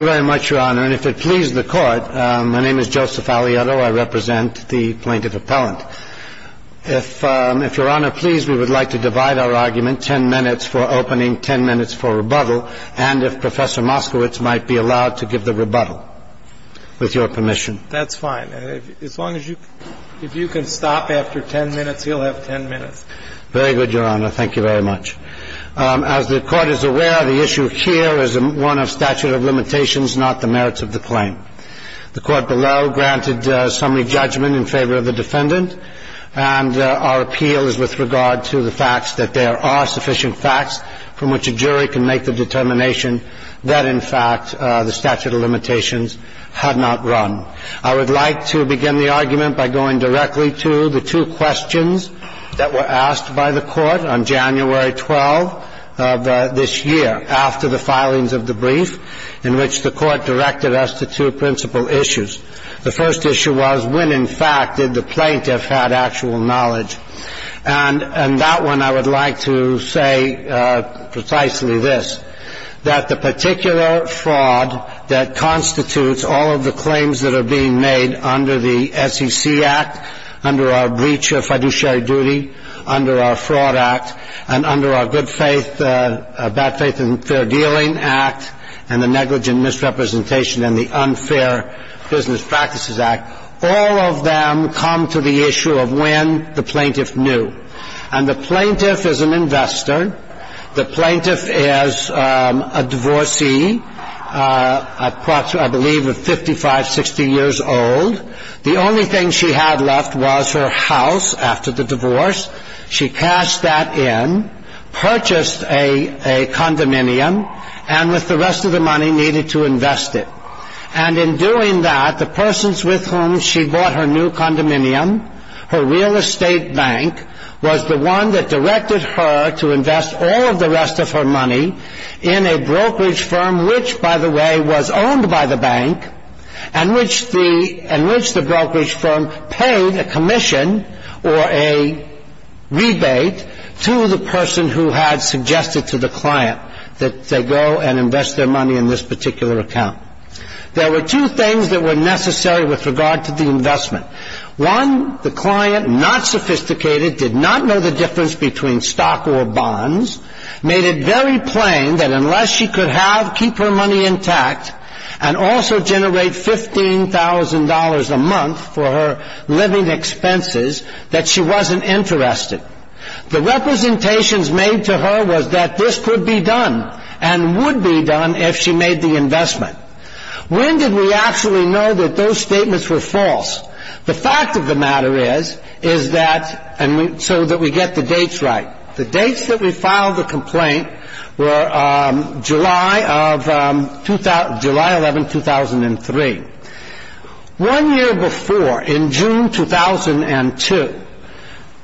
Thank you very much, Your Honor, and if it pleases the Court, my name is Joseph Aliotto. I represent the plaintiff appellant. If Your Honor pleases, we would like to divide our argument ten minutes for opening, ten minutes for rebuttal, and if Professor Moskowitz might be allowed to give the rebuttal, with your permission. That's fine. If you can stop after ten minutes, he'll have ten minutes. Very good, Your Honor. Thank you very much. As the Court is aware, the issue here is one of statute of limitations, not the merits of the claim. The Court below granted summary judgment in favor of the defendant, and our appeal is with regard to the fact that there are sufficient facts from which a jury can make the determination that, in fact, the statute of limitations had not run. I would like to begin the argument by going directly to the two questions that were asked by the Court on January 12 of this year, after the filings of the brief in which the Court directed us to two principal issues. The first issue was, when, in fact, did the plaintiff have actual knowledge? And that one, I would like to say precisely this, that the particular fraud that constitutes all of the claims that are being made under the SEC Act, under our breach of fiduciary duty, under our Fraud Act, and under our Good Faith, Bad Faith and Fair Dealing Act, and the Negligent Misrepresentation and the Unfair Business Practices Act, all of them come to the issue of when the plaintiff knew. And the plaintiff is an investor. The plaintiff is a divorcee, approximately, I believe, of 55, 60 years old. The only thing she had left was her house after the divorce. She cashed that in, purchased a condominium, and with the rest of the money needed to invest it. And in doing that, the persons with whom she bought her new condominium, her real estate bank, was the one that directed her to invest all of the rest of her money in a brokerage firm, which, by the way, was owned by the bank, and which the brokerage firm paid a commission or a rebate to the person who had suggested to the client that they go and invest their money in this particular account. There were two things that were necessary with regard to the investment. One, the client, not sophisticated, did not know the difference between stock or bonds, made it very plain that unless she could keep her money intact and also generate $15,000 a month for her living expenses, that she wasn't interested. The representations made to her was that this could be done and would be done if she made the investment. When did we actually know that those statements were false? The fact of the matter is that, and so that we get the dates right, the dates that we filed the complaint were July 11, 2003. One year before, in June 2002,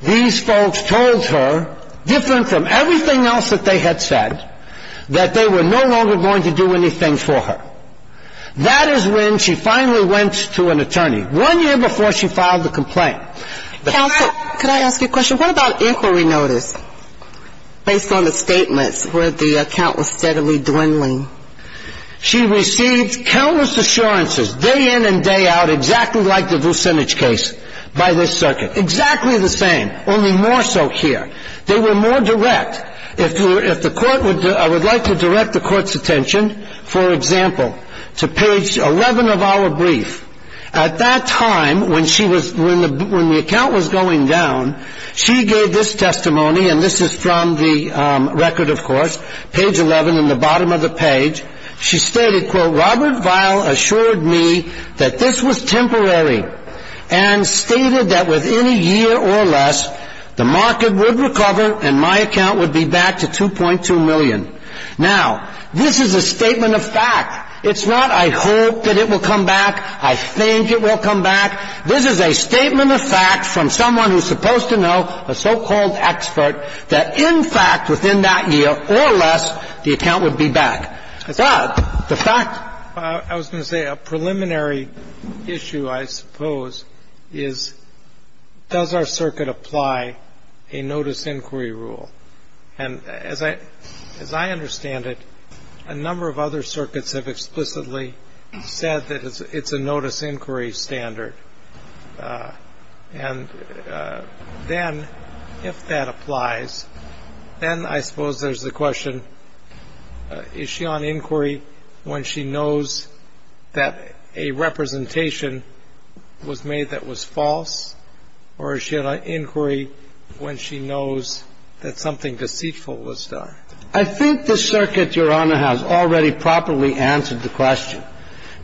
these folks told her, different from everything else that they had said, that they were no longer going to do anything for her. That is when she finally went to an attorney, one year before she filed the complaint. Counsel, could I ask you a question? What about inquiry notice, based on the statements where the account was steadily dwindling? She received countless assurances, day in and day out, exactly like the Vucinich case by this circuit. Exactly the same, only more so here. They were more direct. If the court would like to direct the court's attention, for example, to page 11 of our brief, at that time, when the account was going down, she gave this testimony, and this is from the record, of course, page 11 in the bottom of the page. She stated, quote, Robert Vile assured me that this was temporary and stated that within a year or less, the market would recover and my account would be back to 2.2 million. Now, this is a statement of fact. It's not, I hope that it will come back, I think it will come back. This is a statement of fact from someone who's supposed to know, a so-called expert, that, in fact, within that year or less, the account would be back. That, the fact. I was going to say a preliminary issue, I suppose, is does our circuit apply a notice inquiry rule? And as I understand it, a number of other circuits have explicitly said that it's a notice inquiry standard. And then, if that applies, then I suppose there's the question, is she on inquiry when she knows that a representation was made that was false, or is she on inquiry when she knows that something deceitful was done? I think the circuit, Your Honor, has already properly answered the question,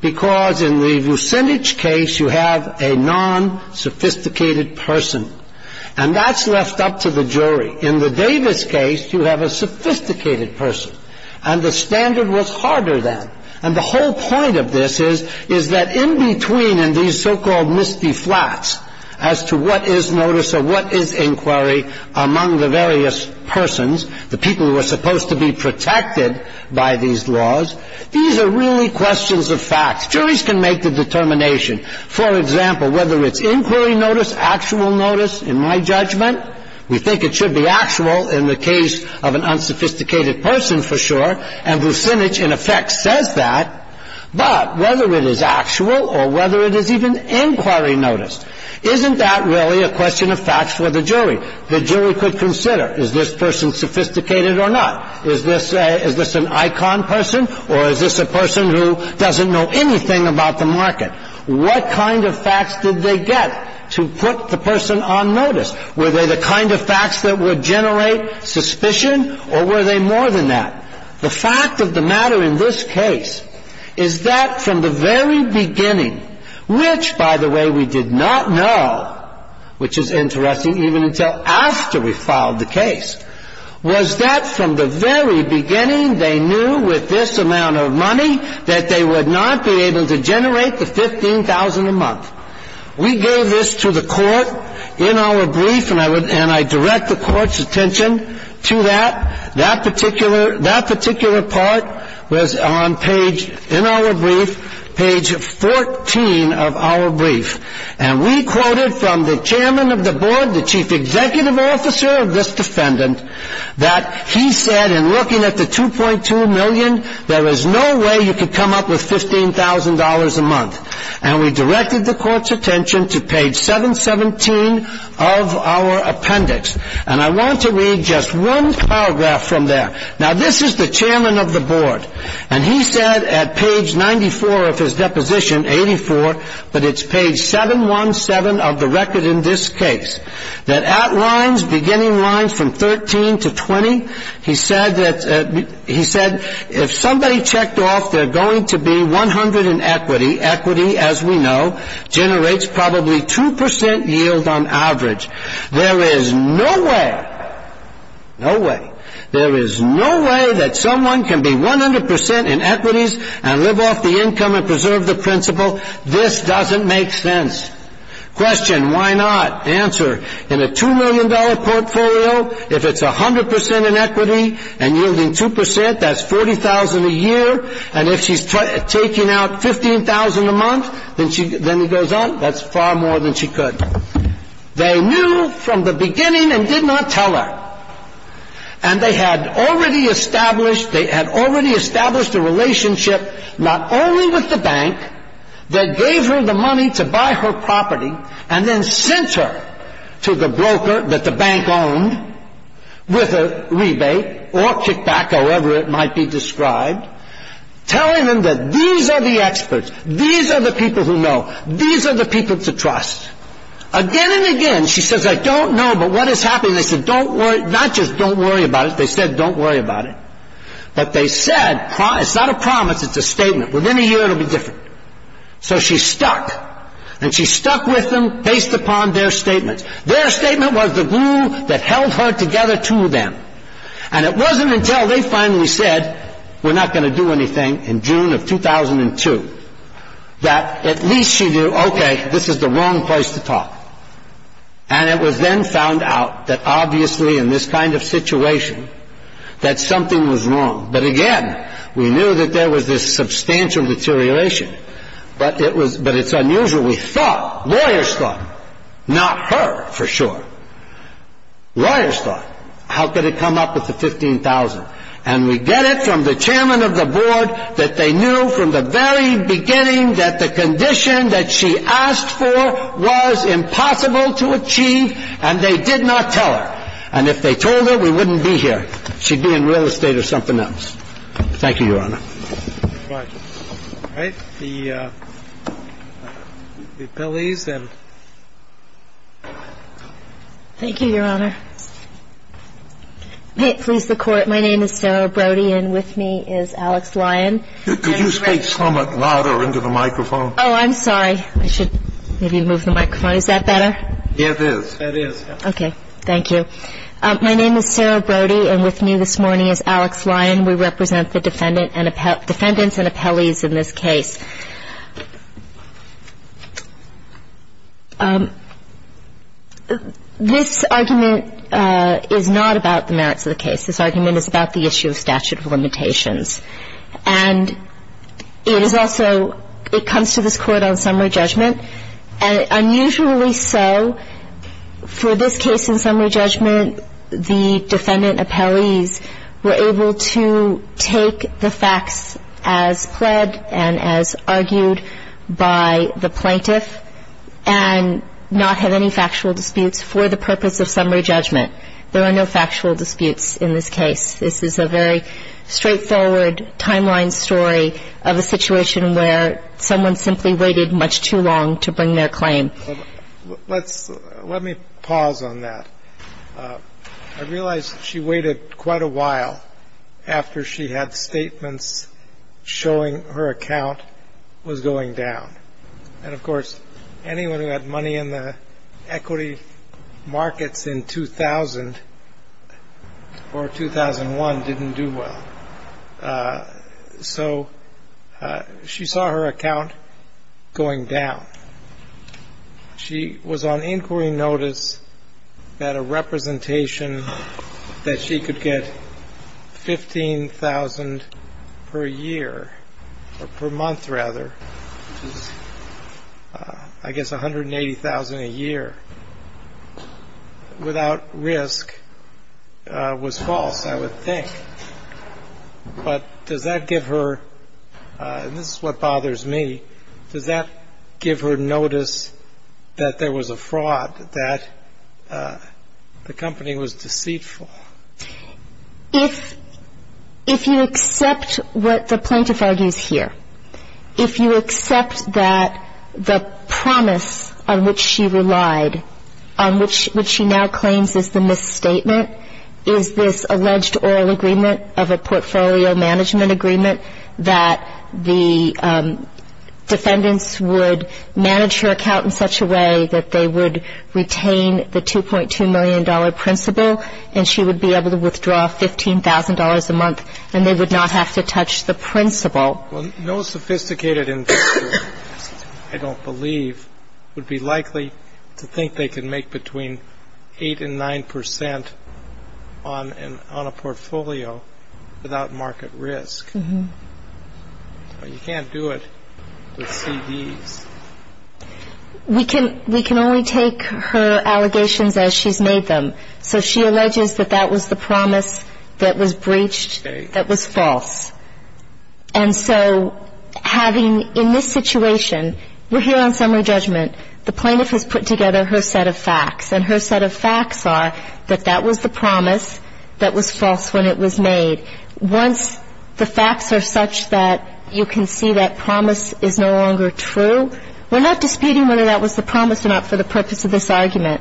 because in the Vucinich case, you have a non-sophisticated person. And that's left up to the jury. In the Davis case, you have a sophisticated person. And the standard was harder then. And the whole point of this is, is that in between in these so-called misty flats, as to what is notice or what is inquiry among the various persons, the people who will be protected by these laws, these are really questions of facts. Juries can make the determination. For example, whether it's inquiry notice, actual notice, in my judgment, we think it should be actual in the case of an unsophisticated person for sure, and Vucinich in effect says that. But whether it is actual or whether it is even inquiry notice, isn't that really a question of facts for the jury? The jury could consider, is this person sophisticated or not? Is this an icon person, or is this a person who doesn't know anything about the market? What kind of facts did they get to put the person on notice? Were they the kind of facts that would generate suspicion, or were they more than that? The fact of the matter in this case is that from the very beginning, which, by the way, we did not know, which is interesting, even until after we filed the case, was that from the very beginning they knew with this amount of money that they would not be able to generate the $15,000 a month. We gave this to the court in our brief, and I direct the court's attention to that. That particular part was on page, in our brief, page 14 of our brief. And we quoted from the chairman of the board, the chief executive officer of this defendant, that he said, in looking at the $2.2 million, there is no way you could come up with $15,000 a month. And we directed the court's attention to page 717 of our appendix. And I want to read just one paragraph from there. Now, this is the chairman of the board, and he said at page 94 of his deposition, 84, but it's page 717 of the record in this case, that outlines beginning lines from 13 to 20. He said, if somebody checked off, they're going to be 100 in equity. Equity, as we know, generates probably 2% yield on average. There is no way, no way, there is no way that someone can be 100% in equities and live off the income and preserve the principal. This doesn't make sense. Question, why not? Answer, in a $2 million portfolio, if it's 100% in equity and yielding 2%, that's $40,000 a year. And if she's taking out $15,000 a month, then he goes on, that's far more than she could. They knew from the beginning and did not tell her. And they had already established, they had already established a relationship not only with the bank that gave her the money to buy her property and then sent her to the broker that the bank owned with a rebate or kickback, however it might be described, telling them that these are the experts. These are the people who know. These are the people to trust. Again and again, she says, I don't know, but what is happening? They said, don't worry, not just don't worry about it. They said, don't worry about it. But they said, it's not a promise, it's a statement. Within a year it will be different. So she stuck. And she stuck with them based upon their statement. Their statement was the glue that held her together to them. And it wasn't until they finally said, we're not going to do anything in June of 2002, that at least she knew, okay, this is the wrong place to talk. And it was then found out that obviously in this kind of situation that something was wrong. But again, we knew that there was this substantial deterioration, but it's unusual. We thought, lawyers thought, not her for sure. Lawyers thought, how could it come up with the 15,000? And we get it from the chairman of the board that they knew from the very beginning that the condition that she asked for was impossible to achieve, and they did not tell her. And if they told her, we wouldn't be here. She'd be in real estate or something else. Thank you, Your Honor. All right. All right. The appellees. Thank you, Your Honor. May it please the Court, my name is Sarah Brody, and with me is Alex Lyon. Could you speak somewhat louder into the microphone? Oh, I'm sorry. I should maybe move the microphone. Is that better? It is. It is. Okay. Thank you. My name is Sarah Brody, and with me this morning is Alex Lyon. We represent the defendants and appellees in this case. This argument is not about the merits of the case. This argument is about the issue of statute of limitations. And it is also, it comes to this Court on summary judgment. And unusually so, for this case in summary judgment, the defendant appellees were able to take the facts as pled and as argued by the plaintiff and not have any factual disputes for the purpose of summary judgment. There are no factual disputes in this case. This is a very straightforward timeline story of a situation where someone simply waited much too long to bring their claim. Let me pause on that. I realize she waited quite a while after she had statements showing her account was going down. And, of course, anyone who had money in the equity markets in 2000 or 2001 didn't do well. So she saw her account going down. She was on inquiry notice that a representation that she could get $15,000 per year, or per month rather, which is, I guess, $180,000 a year, without risk, was false, I would think. But does that give her, and this is what bothers me, does that give her notice that there was a fraud, that the company was deceitful? If you accept what the plaintiff argues here, if you accept that the promise on which she relied, on which she now claims is the misstatement, is this alleged oral agreement of a portfolio management agreement that the defendants would manage her account in such a way that they would retain the $2.2 million principal and she would be able to withdraw $15,000 a month and they would not have to touch the principal. Well, no sophisticated investor, I don't believe, would be likely to think they could make between 8 and 9 percent on a portfolio without market risk. You can't do it with CDs. We can only take her allegations as she's made them. So she alleges that that was the promise that was breached that was false. And so having in this situation, we're here on summary judgment. The plaintiff has put together her set of facts, and her set of facts are that that was the promise that was false when it was made. Once the facts are such that you can see that promise is no longer true, we're not disputing whether that was the promise or not for the purpose of this argument.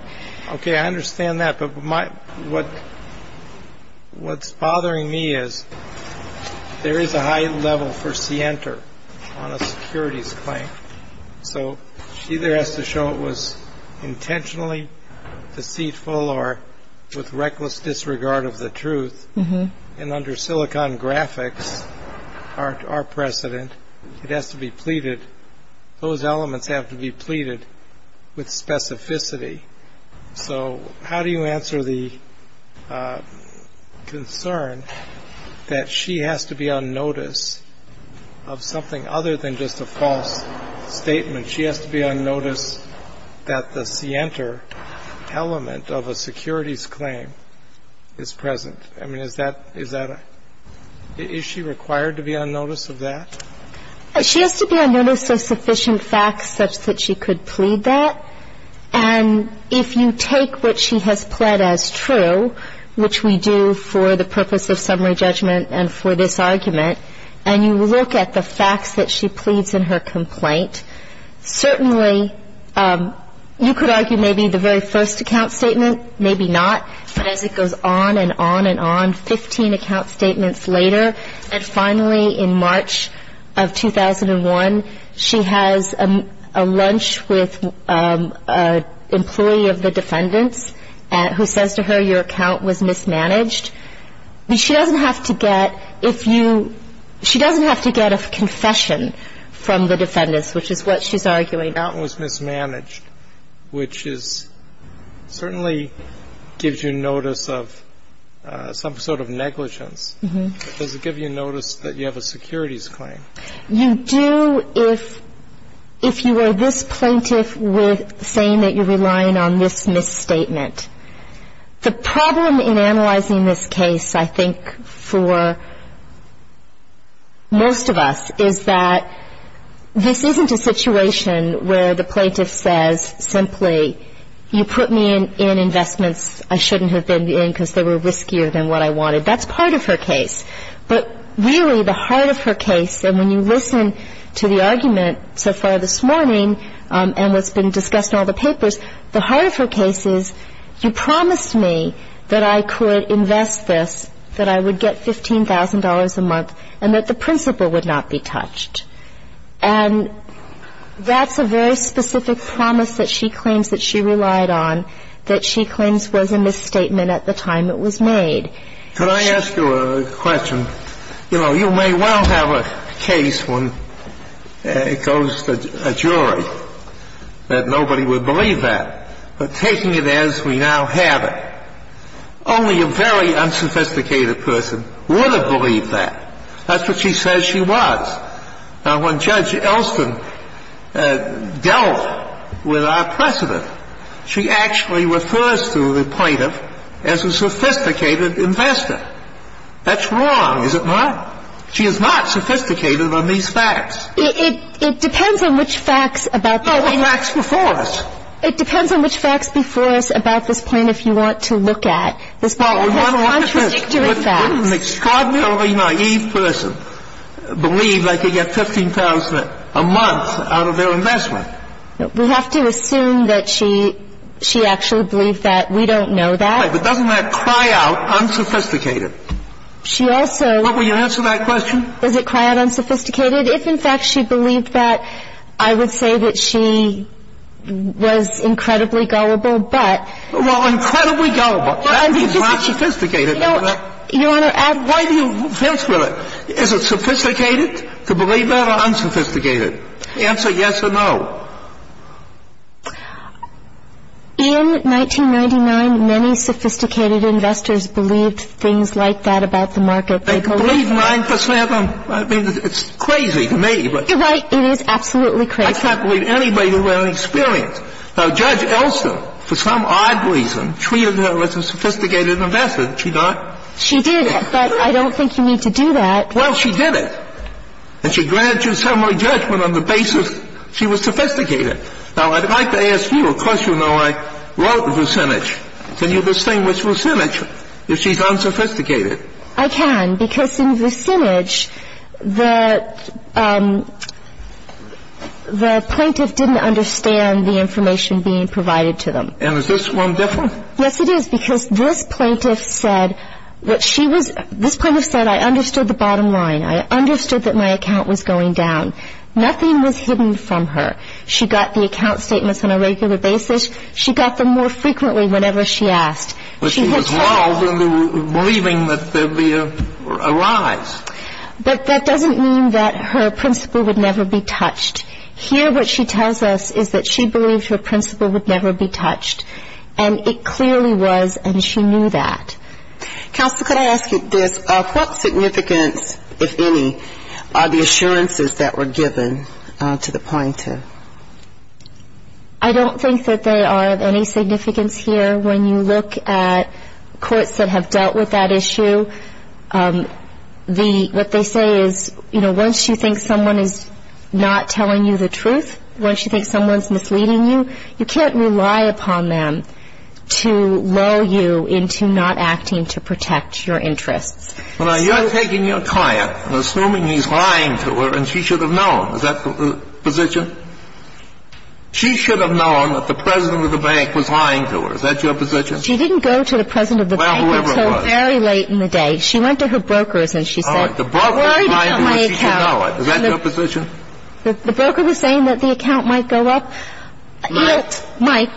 OK, I understand that. But what's bothering me is there is a high level for Sienter on a securities claim. So she either has to show it was intentionally deceitful or with reckless disregard of the truth. And under Silicon Graphics, our precedent, it has to be pleaded. Those elements have to be pleaded with specificity. So how do you answer the concern that she has to be on notice of something other than just a false statement? She has to be on notice that the Sienter element of a securities claim is present. I mean, is that a – is she required to be on notice of that? She has to be on notice of sufficient facts such that she could plead that. And if you take what she has pled as true, which we do for the purpose of summary judgment and for this argument, and you look at the facts that she pleads in her complaint, certainly you could argue maybe the very first account statement, maybe not. But as it goes on and on and on, 15 account statements later, and finally in March of 2001, she has a lunch with an employee of the defendant's who says to her, your account was mismanaged. She doesn't have to get – if you – she doesn't have to get a confession from the defendant, which is what she's arguing. But if you take what she has pled as true, and you look at the facts that she pleads in her complaint, who says to her, your account was mismanaged. Which is – certainly gives you notice of some sort of negligence. Does it give you notice that you have a securities claim? You do if you are this plaintiff saying that you're relying on this misstatement. The problem in analyzing this case, I think, for most of us, is that this isn't a situation where the plaintiff says simply, you put me in investments I shouldn't have been in because they were riskier than what I wanted. That's part of her case. But really, the heart of her case, and when you listen to the argument so far this morning, and what's been discussed in all the papers, the heart of her case is, you promised me that I could invest this, that I would get $15,000 a month, and that the principal would not be touched. And that's a very specific promise that she claims that she relied on, that she claims was a misstatement at the time it was made. Could I ask you a question? You know, you may well have a case when it goes to a jury that nobody would believe that. But taking it as we now have it, only a very unsophisticated person would have believed that. That's what she says she was. Now, when Judge Elston dealt with our precedent, she actually refers to the plaintiff as a sophisticated investor. That's wrong, is it not? She is not sophisticated on these facts. It depends on which facts about this point if you want to look at. This is contradictory facts. An extraordinarily naive person would believe they could get $15,000 a month out of their investment. We have to assume that she actually believed that. We don't know that. But doesn't that cry out unsophisticated? She also – Will you answer that question? Does it cry out unsophisticated? If, in fact, she believed that, I would say that she was incredibly gullible, but – Well, incredibly gullible. That means not sophisticated. Your Honor, add – Why do you fence with it? Is it sophisticated to believe that or unsophisticated? Answer yes or no. In 1999, many sophisticated investors believed things like that about the market. They believed 9% on – I mean, it's crazy to me. You're right. It is absolutely crazy. I can't believe anybody who had any experience. Now, Judge Elston, for some odd reason, treated her as a sophisticated investor. Did she not? She did, but I don't think you need to do that. Well, she did it. And she granted you summary judgment on the basis she was sophisticated. Now, I'd like to ask you – of course you know I wrote Vucinich. Can you distinguish Vucinich if she's unsophisticated? I can, because in Vucinich, the plaintiff didn't understand the information being provided to them. And is this one different? Yes, it is, because this plaintiff said what she was – this plaintiff said, I understood the bottom line. I understood that my account was going down. Nothing was hidden from her. She got the account statements on a regular basis. She got them more frequently whenever she asked. But she was involved in believing that there'd be a rise. But that doesn't mean that her principle would never be touched. Here, what she tells us is that she believed her principle would never be touched. And it clearly was, and she knew that. Counsel, could I ask you this? What significance, if any, are the assurances that were given to the plaintiff? I don't think that they are of any significance here. When you look at courts that have dealt with that issue, what they say is, you know, once you think someone is not telling you the truth, once you think someone's misleading you, you can't rely upon them to lull you into not acting to protect your interests. Now, you're taking your client and assuming he's lying to her and she should have known. Is that the position? She should have known that the president of the bank was lying to her. Is that your position? She didn't go to the president of the bank until very late in the day. She went to her brokers and she said, I'm worried about my account. Is that your position? The broker was saying that the account might go up. Might. Might.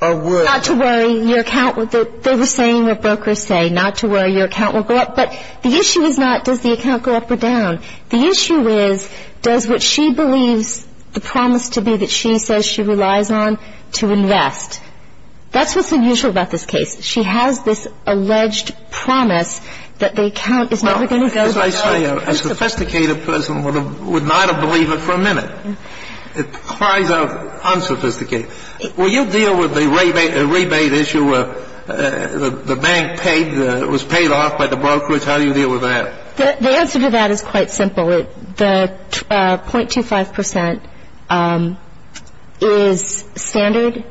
Or will. Not to worry, your account will go up. They were saying what brokers say, not to worry, your account will go up. But the issue is not does the account go up or down. The issue is does what she believes the promise to be that she says she relies on to invest. That's what's unusual about this case. She has this alleged promise that the account is never going to go up. As I say, a sophisticated person would not have believed it for a minute. It cries out unsophisticated. Will you deal with the rebate issue where the bank was paid off by the brokerage? How do you deal with that? The answer to that is quite simple. The .25 percent is standard.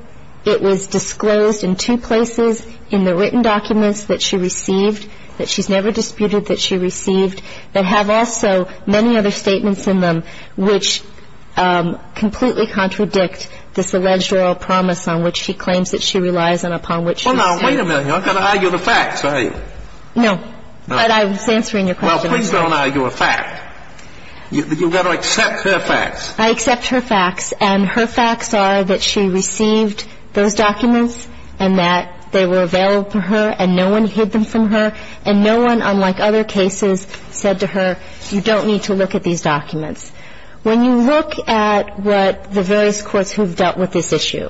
It was disclosed in two places in the written documents that she received, that she's never disputed that she received, that have also many other statements in them which completely contradict this alleged oral promise on which she claims that she relies and upon which she says. Well, now, wait a minute. You're not going to argue the facts, are you? No. But I was answering your question. Well, please don't argue a fact. You've got to accept her facts. I accept her facts, and her facts are that she received those documents and that they were available to her and no one hid them from her, and no one, unlike other cases, said to her, you don't need to look at these documents. When you look at what the various courts who have dealt with this issue,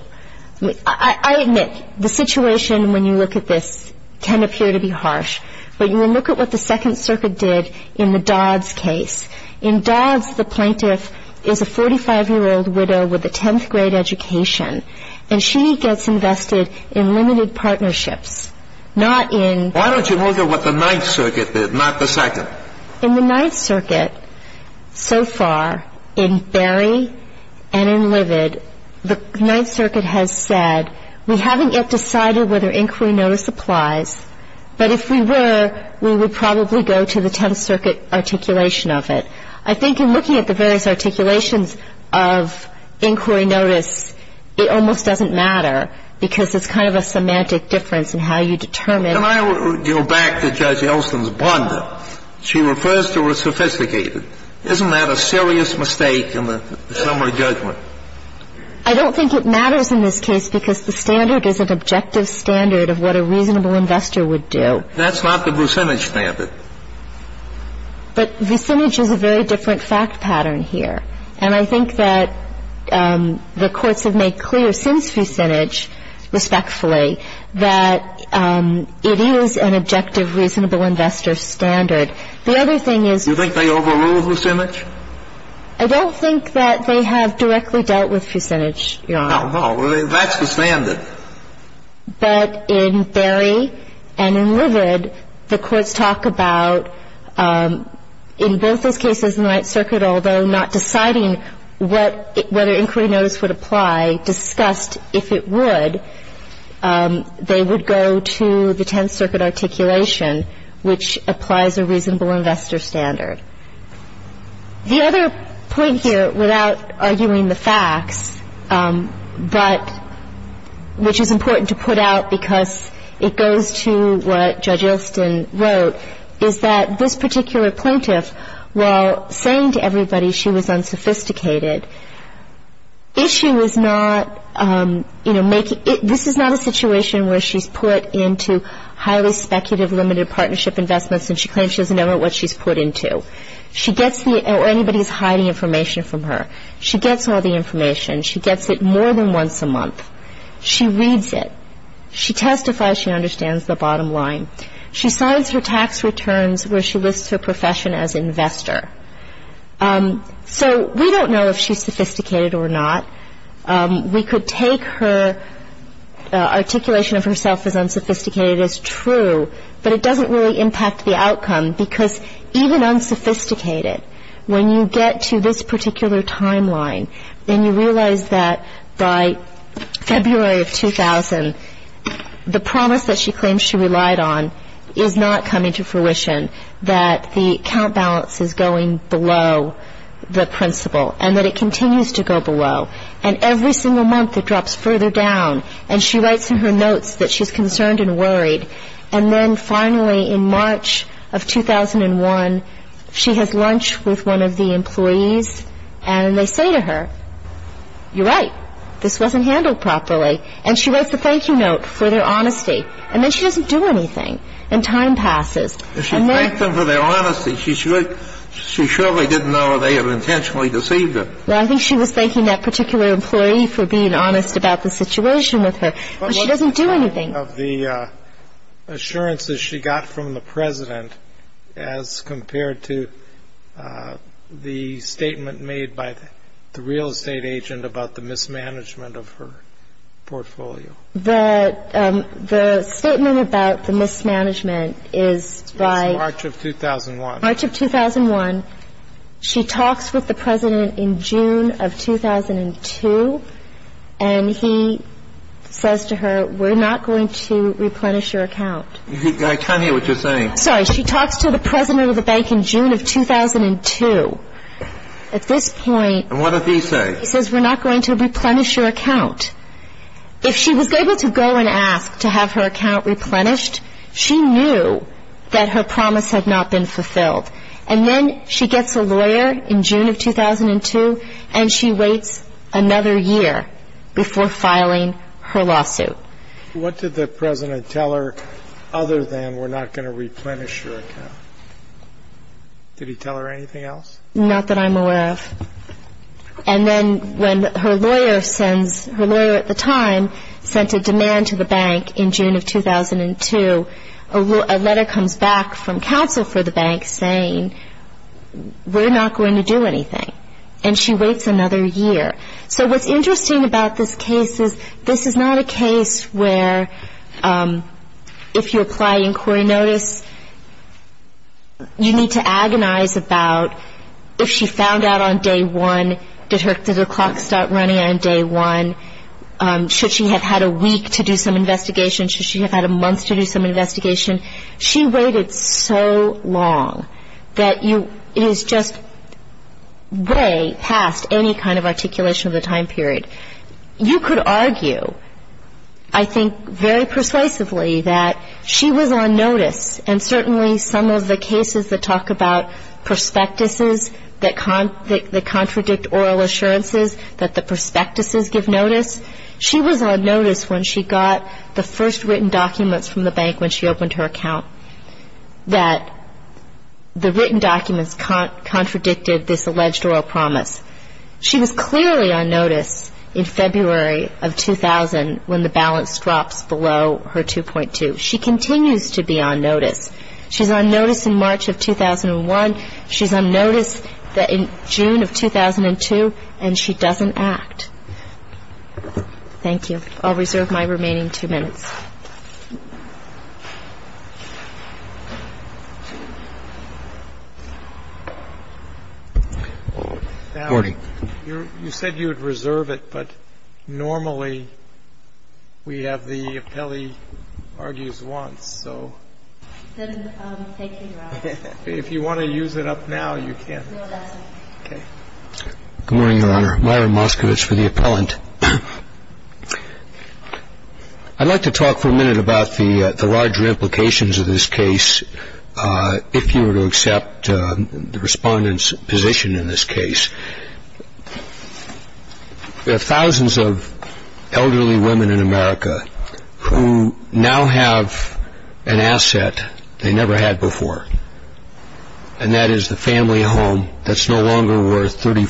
I admit the situation when you look at this can appear to be harsh, but you will look at what the Second Circuit did in the Dodds case. In Dodds, the plaintiff is a 45-year-old widow with a 10th-grade education, and she gets invested in limited partnerships, not in Why don't you look at what the Ninth Circuit did, not the Second? In the Ninth Circuit, so far, in Berry and in Livid, the Ninth Circuit has said, we haven't yet decided whether inquiry notice applies, but if we were, we would probably go to the Tenth Circuit articulation of it. I think in looking at the various articulations of inquiry notice, it almost doesn't matter because it's kind of a semantic difference in how you determine Can I go back to Judge Elston's blunder? She refers to her sophisticated. Isn't that a serious mistake in the summary judgment? I don't think it matters in this case because the standard is an objective standard of what a reasonable investor would do. That's not the vicinage standard. But vicinage is a very different fact pattern here, and I think that the courts have made clear since vicinage, respectfully, that it is an objective reasonable investor standard. The other thing is Do you think they overrule vicinage? I don't think that they have directly dealt with vicinage, Your Honor. No, no. That's the standard. But in Berry and in Livid, the courts talk about in both those cases in the Ninth Circuit, although not deciding whether inquiry notice would apply, discussed if it would, they would go to the Tenth Circuit articulation, which applies a reasonable investor standard. The other point here, without arguing the facts, but which is important to put out because it goes to what Judge Elston wrote, is that this particular plaintiff, while saying to everybody she was unsophisticated, if she was not, you know, making — this is not a situation where she's put into highly speculative, and she claims she doesn't know what she's put into, or anybody's hiding information from her. She gets all the information. She gets it more than once a month. She reads it. She testifies she understands the bottom line. She signs her tax returns where she lists her profession as investor. So we don't know if she's sophisticated or not. We could take her articulation of herself as unsophisticated as true, but it doesn't really impact the outcome because even unsophisticated, when you get to this particular timeline, then you realize that by February of 2000, the promise that she claims she relied on is not coming to fruition, that the account balance is going below the principle, and that it continues to go below. And every single month, it drops further down. And she writes in her notes that she's concerned and worried. And then finally, in March of 2001, she has lunch with one of the employees, and they say to her, you're right, this wasn't handled properly. And she writes a thank you note for their honesty. And then she doesn't do anything, and time passes. And she thanked them for their honesty. She surely didn't know they had intentionally deceived her. Well, I think she was thanking that particular employee for being honest about the situation with her. But she doesn't do anything. What is the effect of the assurances she got from the President as compared to the statement made by the real estate agent about the mismanagement of her portfolio? The statement about the mismanagement is by March of 2001. March of 2001. She talks with the President in June of 2002. And he says to her, we're not going to replenish your account. Can I tell me what you're saying? Sorry. She talks to the President of the bank in June of 2002. At this point. And what does he say? He says, we're not going to replenish your account. If she was able to go and ask to have her account replenished, she knew that her promise had not been fulfilled. And then she gets a lawyer in June of 2002, and she waits another year before filing her lawsuit. What did the President tell her other than we're not going to replenish your account? Did he tell her anything else? Not that I'm aware of. And then when her lawyer sends her lawyer at the time sent a demand to the bank in June of 2002, a letter comes back from counsel for the bank saying we're not going to do anything. And she waits another year. So what's interesting about this case is this is not a case where if you apply inquiry notice, you need to agonize about if she found out on day one, did her clock start running on day one? Should she have had a week to do some investigation? Should she have had a month to do some investigation? She waited so long that it is just way past any kind of articulation of the time period. You could argue, I think, very persuasively that she was on notice, and certainly some of the cases that talk about prospectuses that contradict oral assurances, that the prospectuses give notice, she was on notice when she got the first written documents from the bank when she opened her account, that the written documents contradicted this alleged oral promise. She was clearly on notice in February of 2000 when the balance drops below her 2.2. She continues to be on notice. She's on notice in March of 2001. She's on notice in June of 2002, and she doesn't act. Thank you. I'll reserve my remaining two minutes. You said you would reserve it, but normally we have the appellee argues once. So if you want to use it up now, you can. Good morning, Your Honor. Myron Moskowitz for the appellant. I'd like to talk for a minute about the larger implications of this case, if you were to accept the respondent's position in this case. There are thousands of elderly women in America who now have an asset they never had before, and that is the family home that's no longer worth $30,000,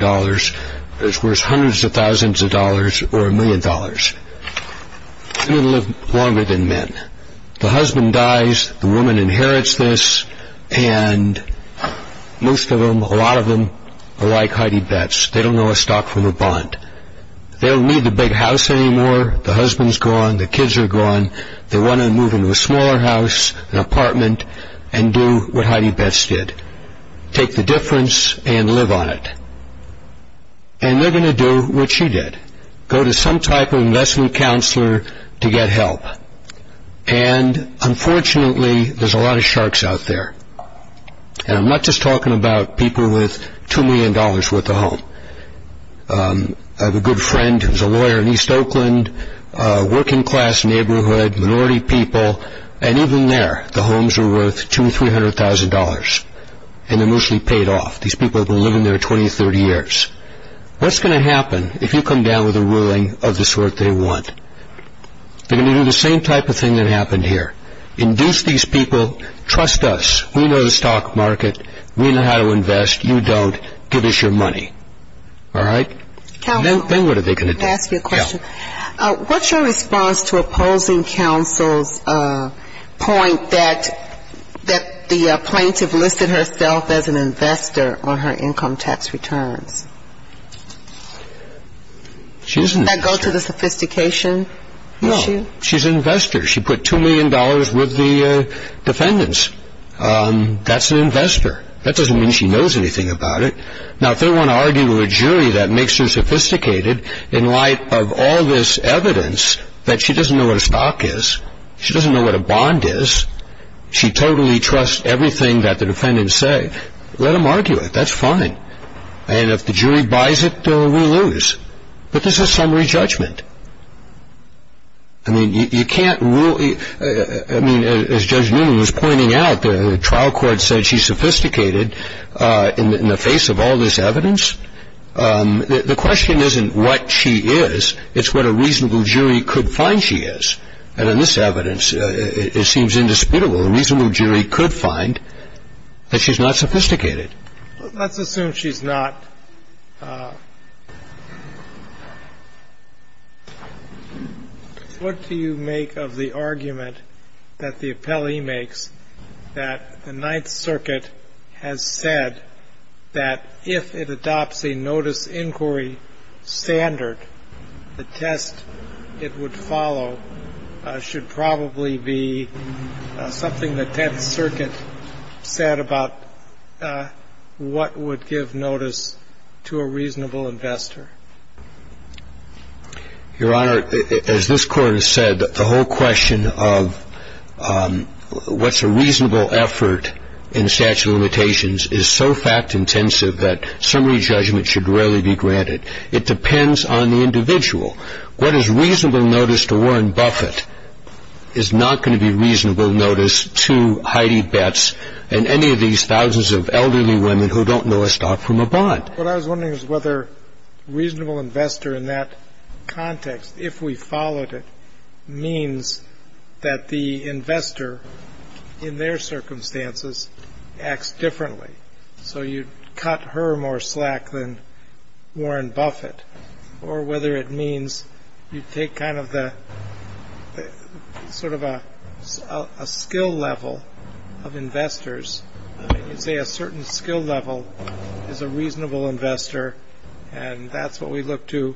$40,000, but it's worth hundreds of thousands of dollars or a million dollars. Women live longer than men. The husband dies, the woman inherits this, and most of them, a lot of them, are like Heidi Betts. They don't know a stock from a bond. They don't need the big house anymore. The husband's gone, the kids are gone. They want to move into a smaller house, an apartment, and do what Heidi Betts did, take the difference and live on it, and they're going to do what she did, go to some type of investment counselor to get help. And unfortunately, there's a lot of sharks out there, and I'm not just talking about people with $2 million worth of home. I have a good friend who's a lawyer in East Oakland, working-class neighborhood, minority people, and even there, the homes are worth $200,000, $300,000, and they're mostly paid off. These people have been living there 20 or 30 years. What's going to happen if you come down with a ruling of the sort they want? They're going to do the same type of thing that happened here, induce these people, trust us, we know the stock market, we know how to invest, you don't, give us your money. All right? Counselor, let me ask you a question. What's your response to opposing counsel's point that the plaintiff listed herself as an investor on her income tax returns? Does that go to the sophistication issue? No, she's an investor. She put $2 million with the defendants. That's an investor. That doesn't mean she knows anything about it. Now, if they want to argue with a jury that makes her sophisticated in light of all this evidence, that she doesn't know what a stock is, she doesn't know what a bond is, she totally trusts everything that the defendants say, let them argue it. That's fine. And if the jury buys it, we lose. But this is summary judgment. I mean, you can't rule, I mean, as Judge Newman was pointing out, the trial court said she's sophisticated in the face of all this evidence. The question isn't what she is, it's what a reasonable jury could find she is. And in this evidence, it seems indisputable. A reasonable jury could find that she's not sophisticated. Let's assume she's not. What do you make of the argument that the appellee makes that the Ninth Circuit has said that if it adopts a notice inquiry standard, the test it would follow should probably be something that the Ninth Circuit said about what would give notice to a reasonable investor? Your Honor, as this Court has said, the whole question of what's a reasonable effort in the statute of limitations is so fact-intensive that summary judgment should rarely be granted. It depends on the individual. What is reasonable notice to Warren Buffett is not going to be reasonable notice to Heidi Betts and any of these thousands of elderly women who don't know a stock from a bond. What I was wondering is whether reasonable investor in that context, if we followed it, means that the investor in their circumstances acts differently. So you cut her more slack than Warren Buffett, or whether it means you take kind of the sort of a skill level of investors. You say a certain skill level is a reasonable investor, and that's what we look to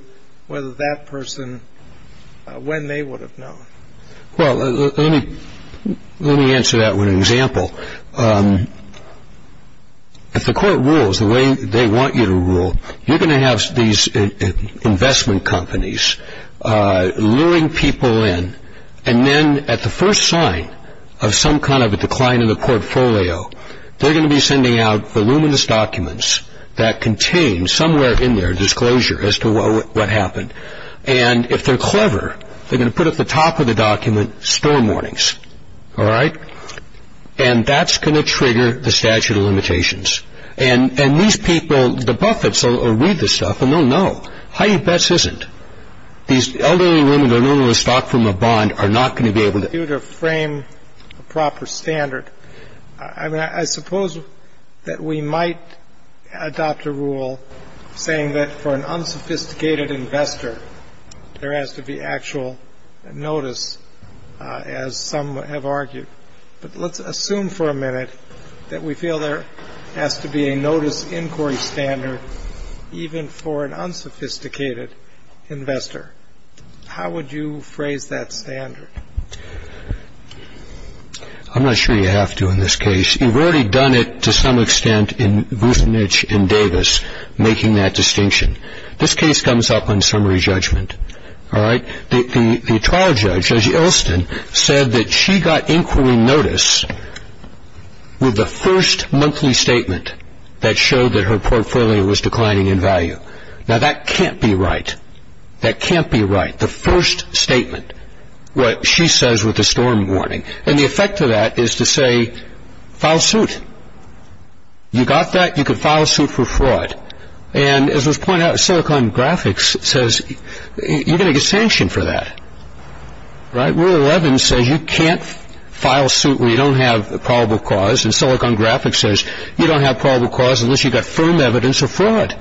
whether that person, when they would have known. Well, let me answer that with an example. If the Court rules the way they want you to rule, you're going to have these investment companies luring people in, and then at the first sign of some kind of a decline in the portfolio, they're going to be sending out voluminous documents that contain somewhere in their disclosure as to what happened. And if they're clever, they're going to put at the top of the document store warnings. All right? And that's going to trigger the statute of limitations. And these people, the Buffetts will read this stuff and they'll know. Heidi Betts isn't. These elderly women who don't know a stock from a bond are not going to be able to frame a proper standard. I suppose that we might adopt a rule saying that for an unsophisticated investor, there has to be actual notice, as some have argued. But let's assume for a minute that we feel there has to be a notice inquiry standard, even for an unsophisticated investor. How would you phrase that standard? I'm not sure you have to in this case. You've already done it to some extent in Vucinich and Davis, making that distinction. This case comes up on summary judgment. All right? The trial judge, Judge Elston, said that she got inquiry notice with the first monthly statement that showed that her portfolio was declining in value. Now, that can't be right. That can't be right, the first statement. What she says with the storm warning. And the effect of that is to say, file suit. You got that? You can file suit for fraud. And as was pointed out, Silicon Graphics says you're going to get sanctioned for that. Right? Rule 11 says you can't file suit where you don't have probable cause. And Silicon Graphics says you don't have probable cause unless you've got firm evidence of fraud.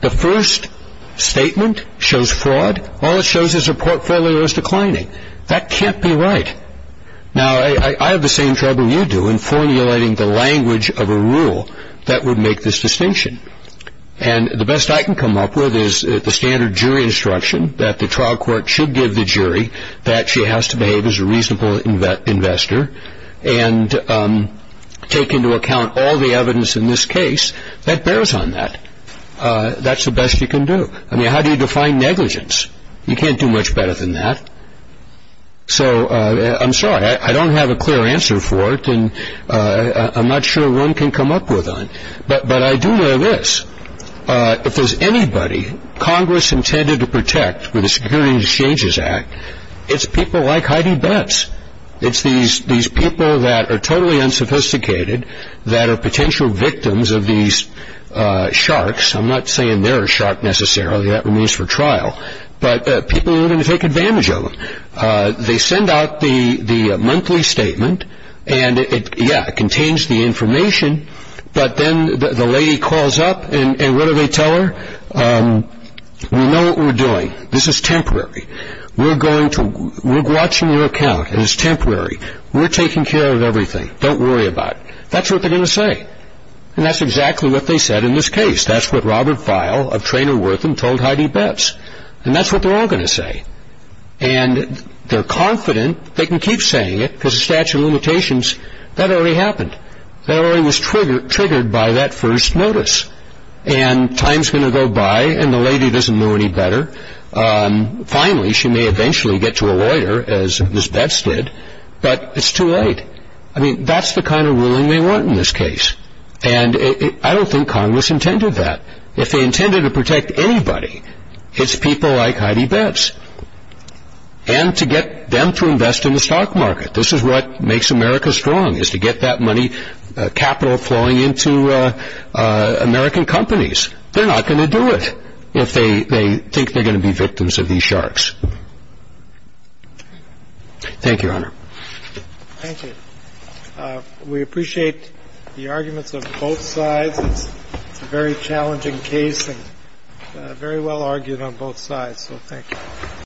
The first statement shows fraud. All it shows is her portfolio is declining. That can't be right. Now, I have the same trouble you do in formulating the language of a rule that would make this distinction. And the best I can come up with is the standard jury instruction that the trial court should give the jury that she has to behave as a reasonable investor and take into account all the evidence in this case that bears on that. That's the best you can do. I mean, how do you define negligence? You can't do much better than that. So I'm sorry. I don't have a clear answer for it. And I'm not sure one can come up with one. But I do know this. If there's anybody Congress intended to protect with the Security and Exchanges Act, it's people like Heidi Betts. It's these people that are totally unsophisticated that are potential victims of these sharks. I'm not saying they're a shark necessarily. That remains for trial. But people are going to take advantage of them. They send out the monthly statement, and, yeah, it contains the information. But then the lady calls up, and what do they tell her? We know what we're doing. This is temporary. We're going to watch your account, and it's temporary. We're taking care of everything. Don't worry about it. That's what they're going to say. And that's exactly what they said in this case. That's what Robert Feil of Traynor-Wortham told Heidi Betts. And that's what they're all going to say. And they're confident they can keep saying it because of statute of limitations. That already happened. That already was triggered by that first notice. And time's going to go by, and the lady doesn't know any better. Finally, she may eventually get to a lawyer, as Ms. Betts did, but it's too late. I mean, that's the kind of ruling they want in this case. And I don't think Congress intended that. If they intended to protect anybody, it's people like Heidi Betts. And to get them to invest in the stock market. This is what makes America strong is to get that money, capital flowing into American companies. They're not going to do it if they think they're going to be victims of these sharks. Thank you, Your Honor. Thank you. We appreciate the arguments of both sides. It's a very challenging case and very well argued on both sides. So thank you.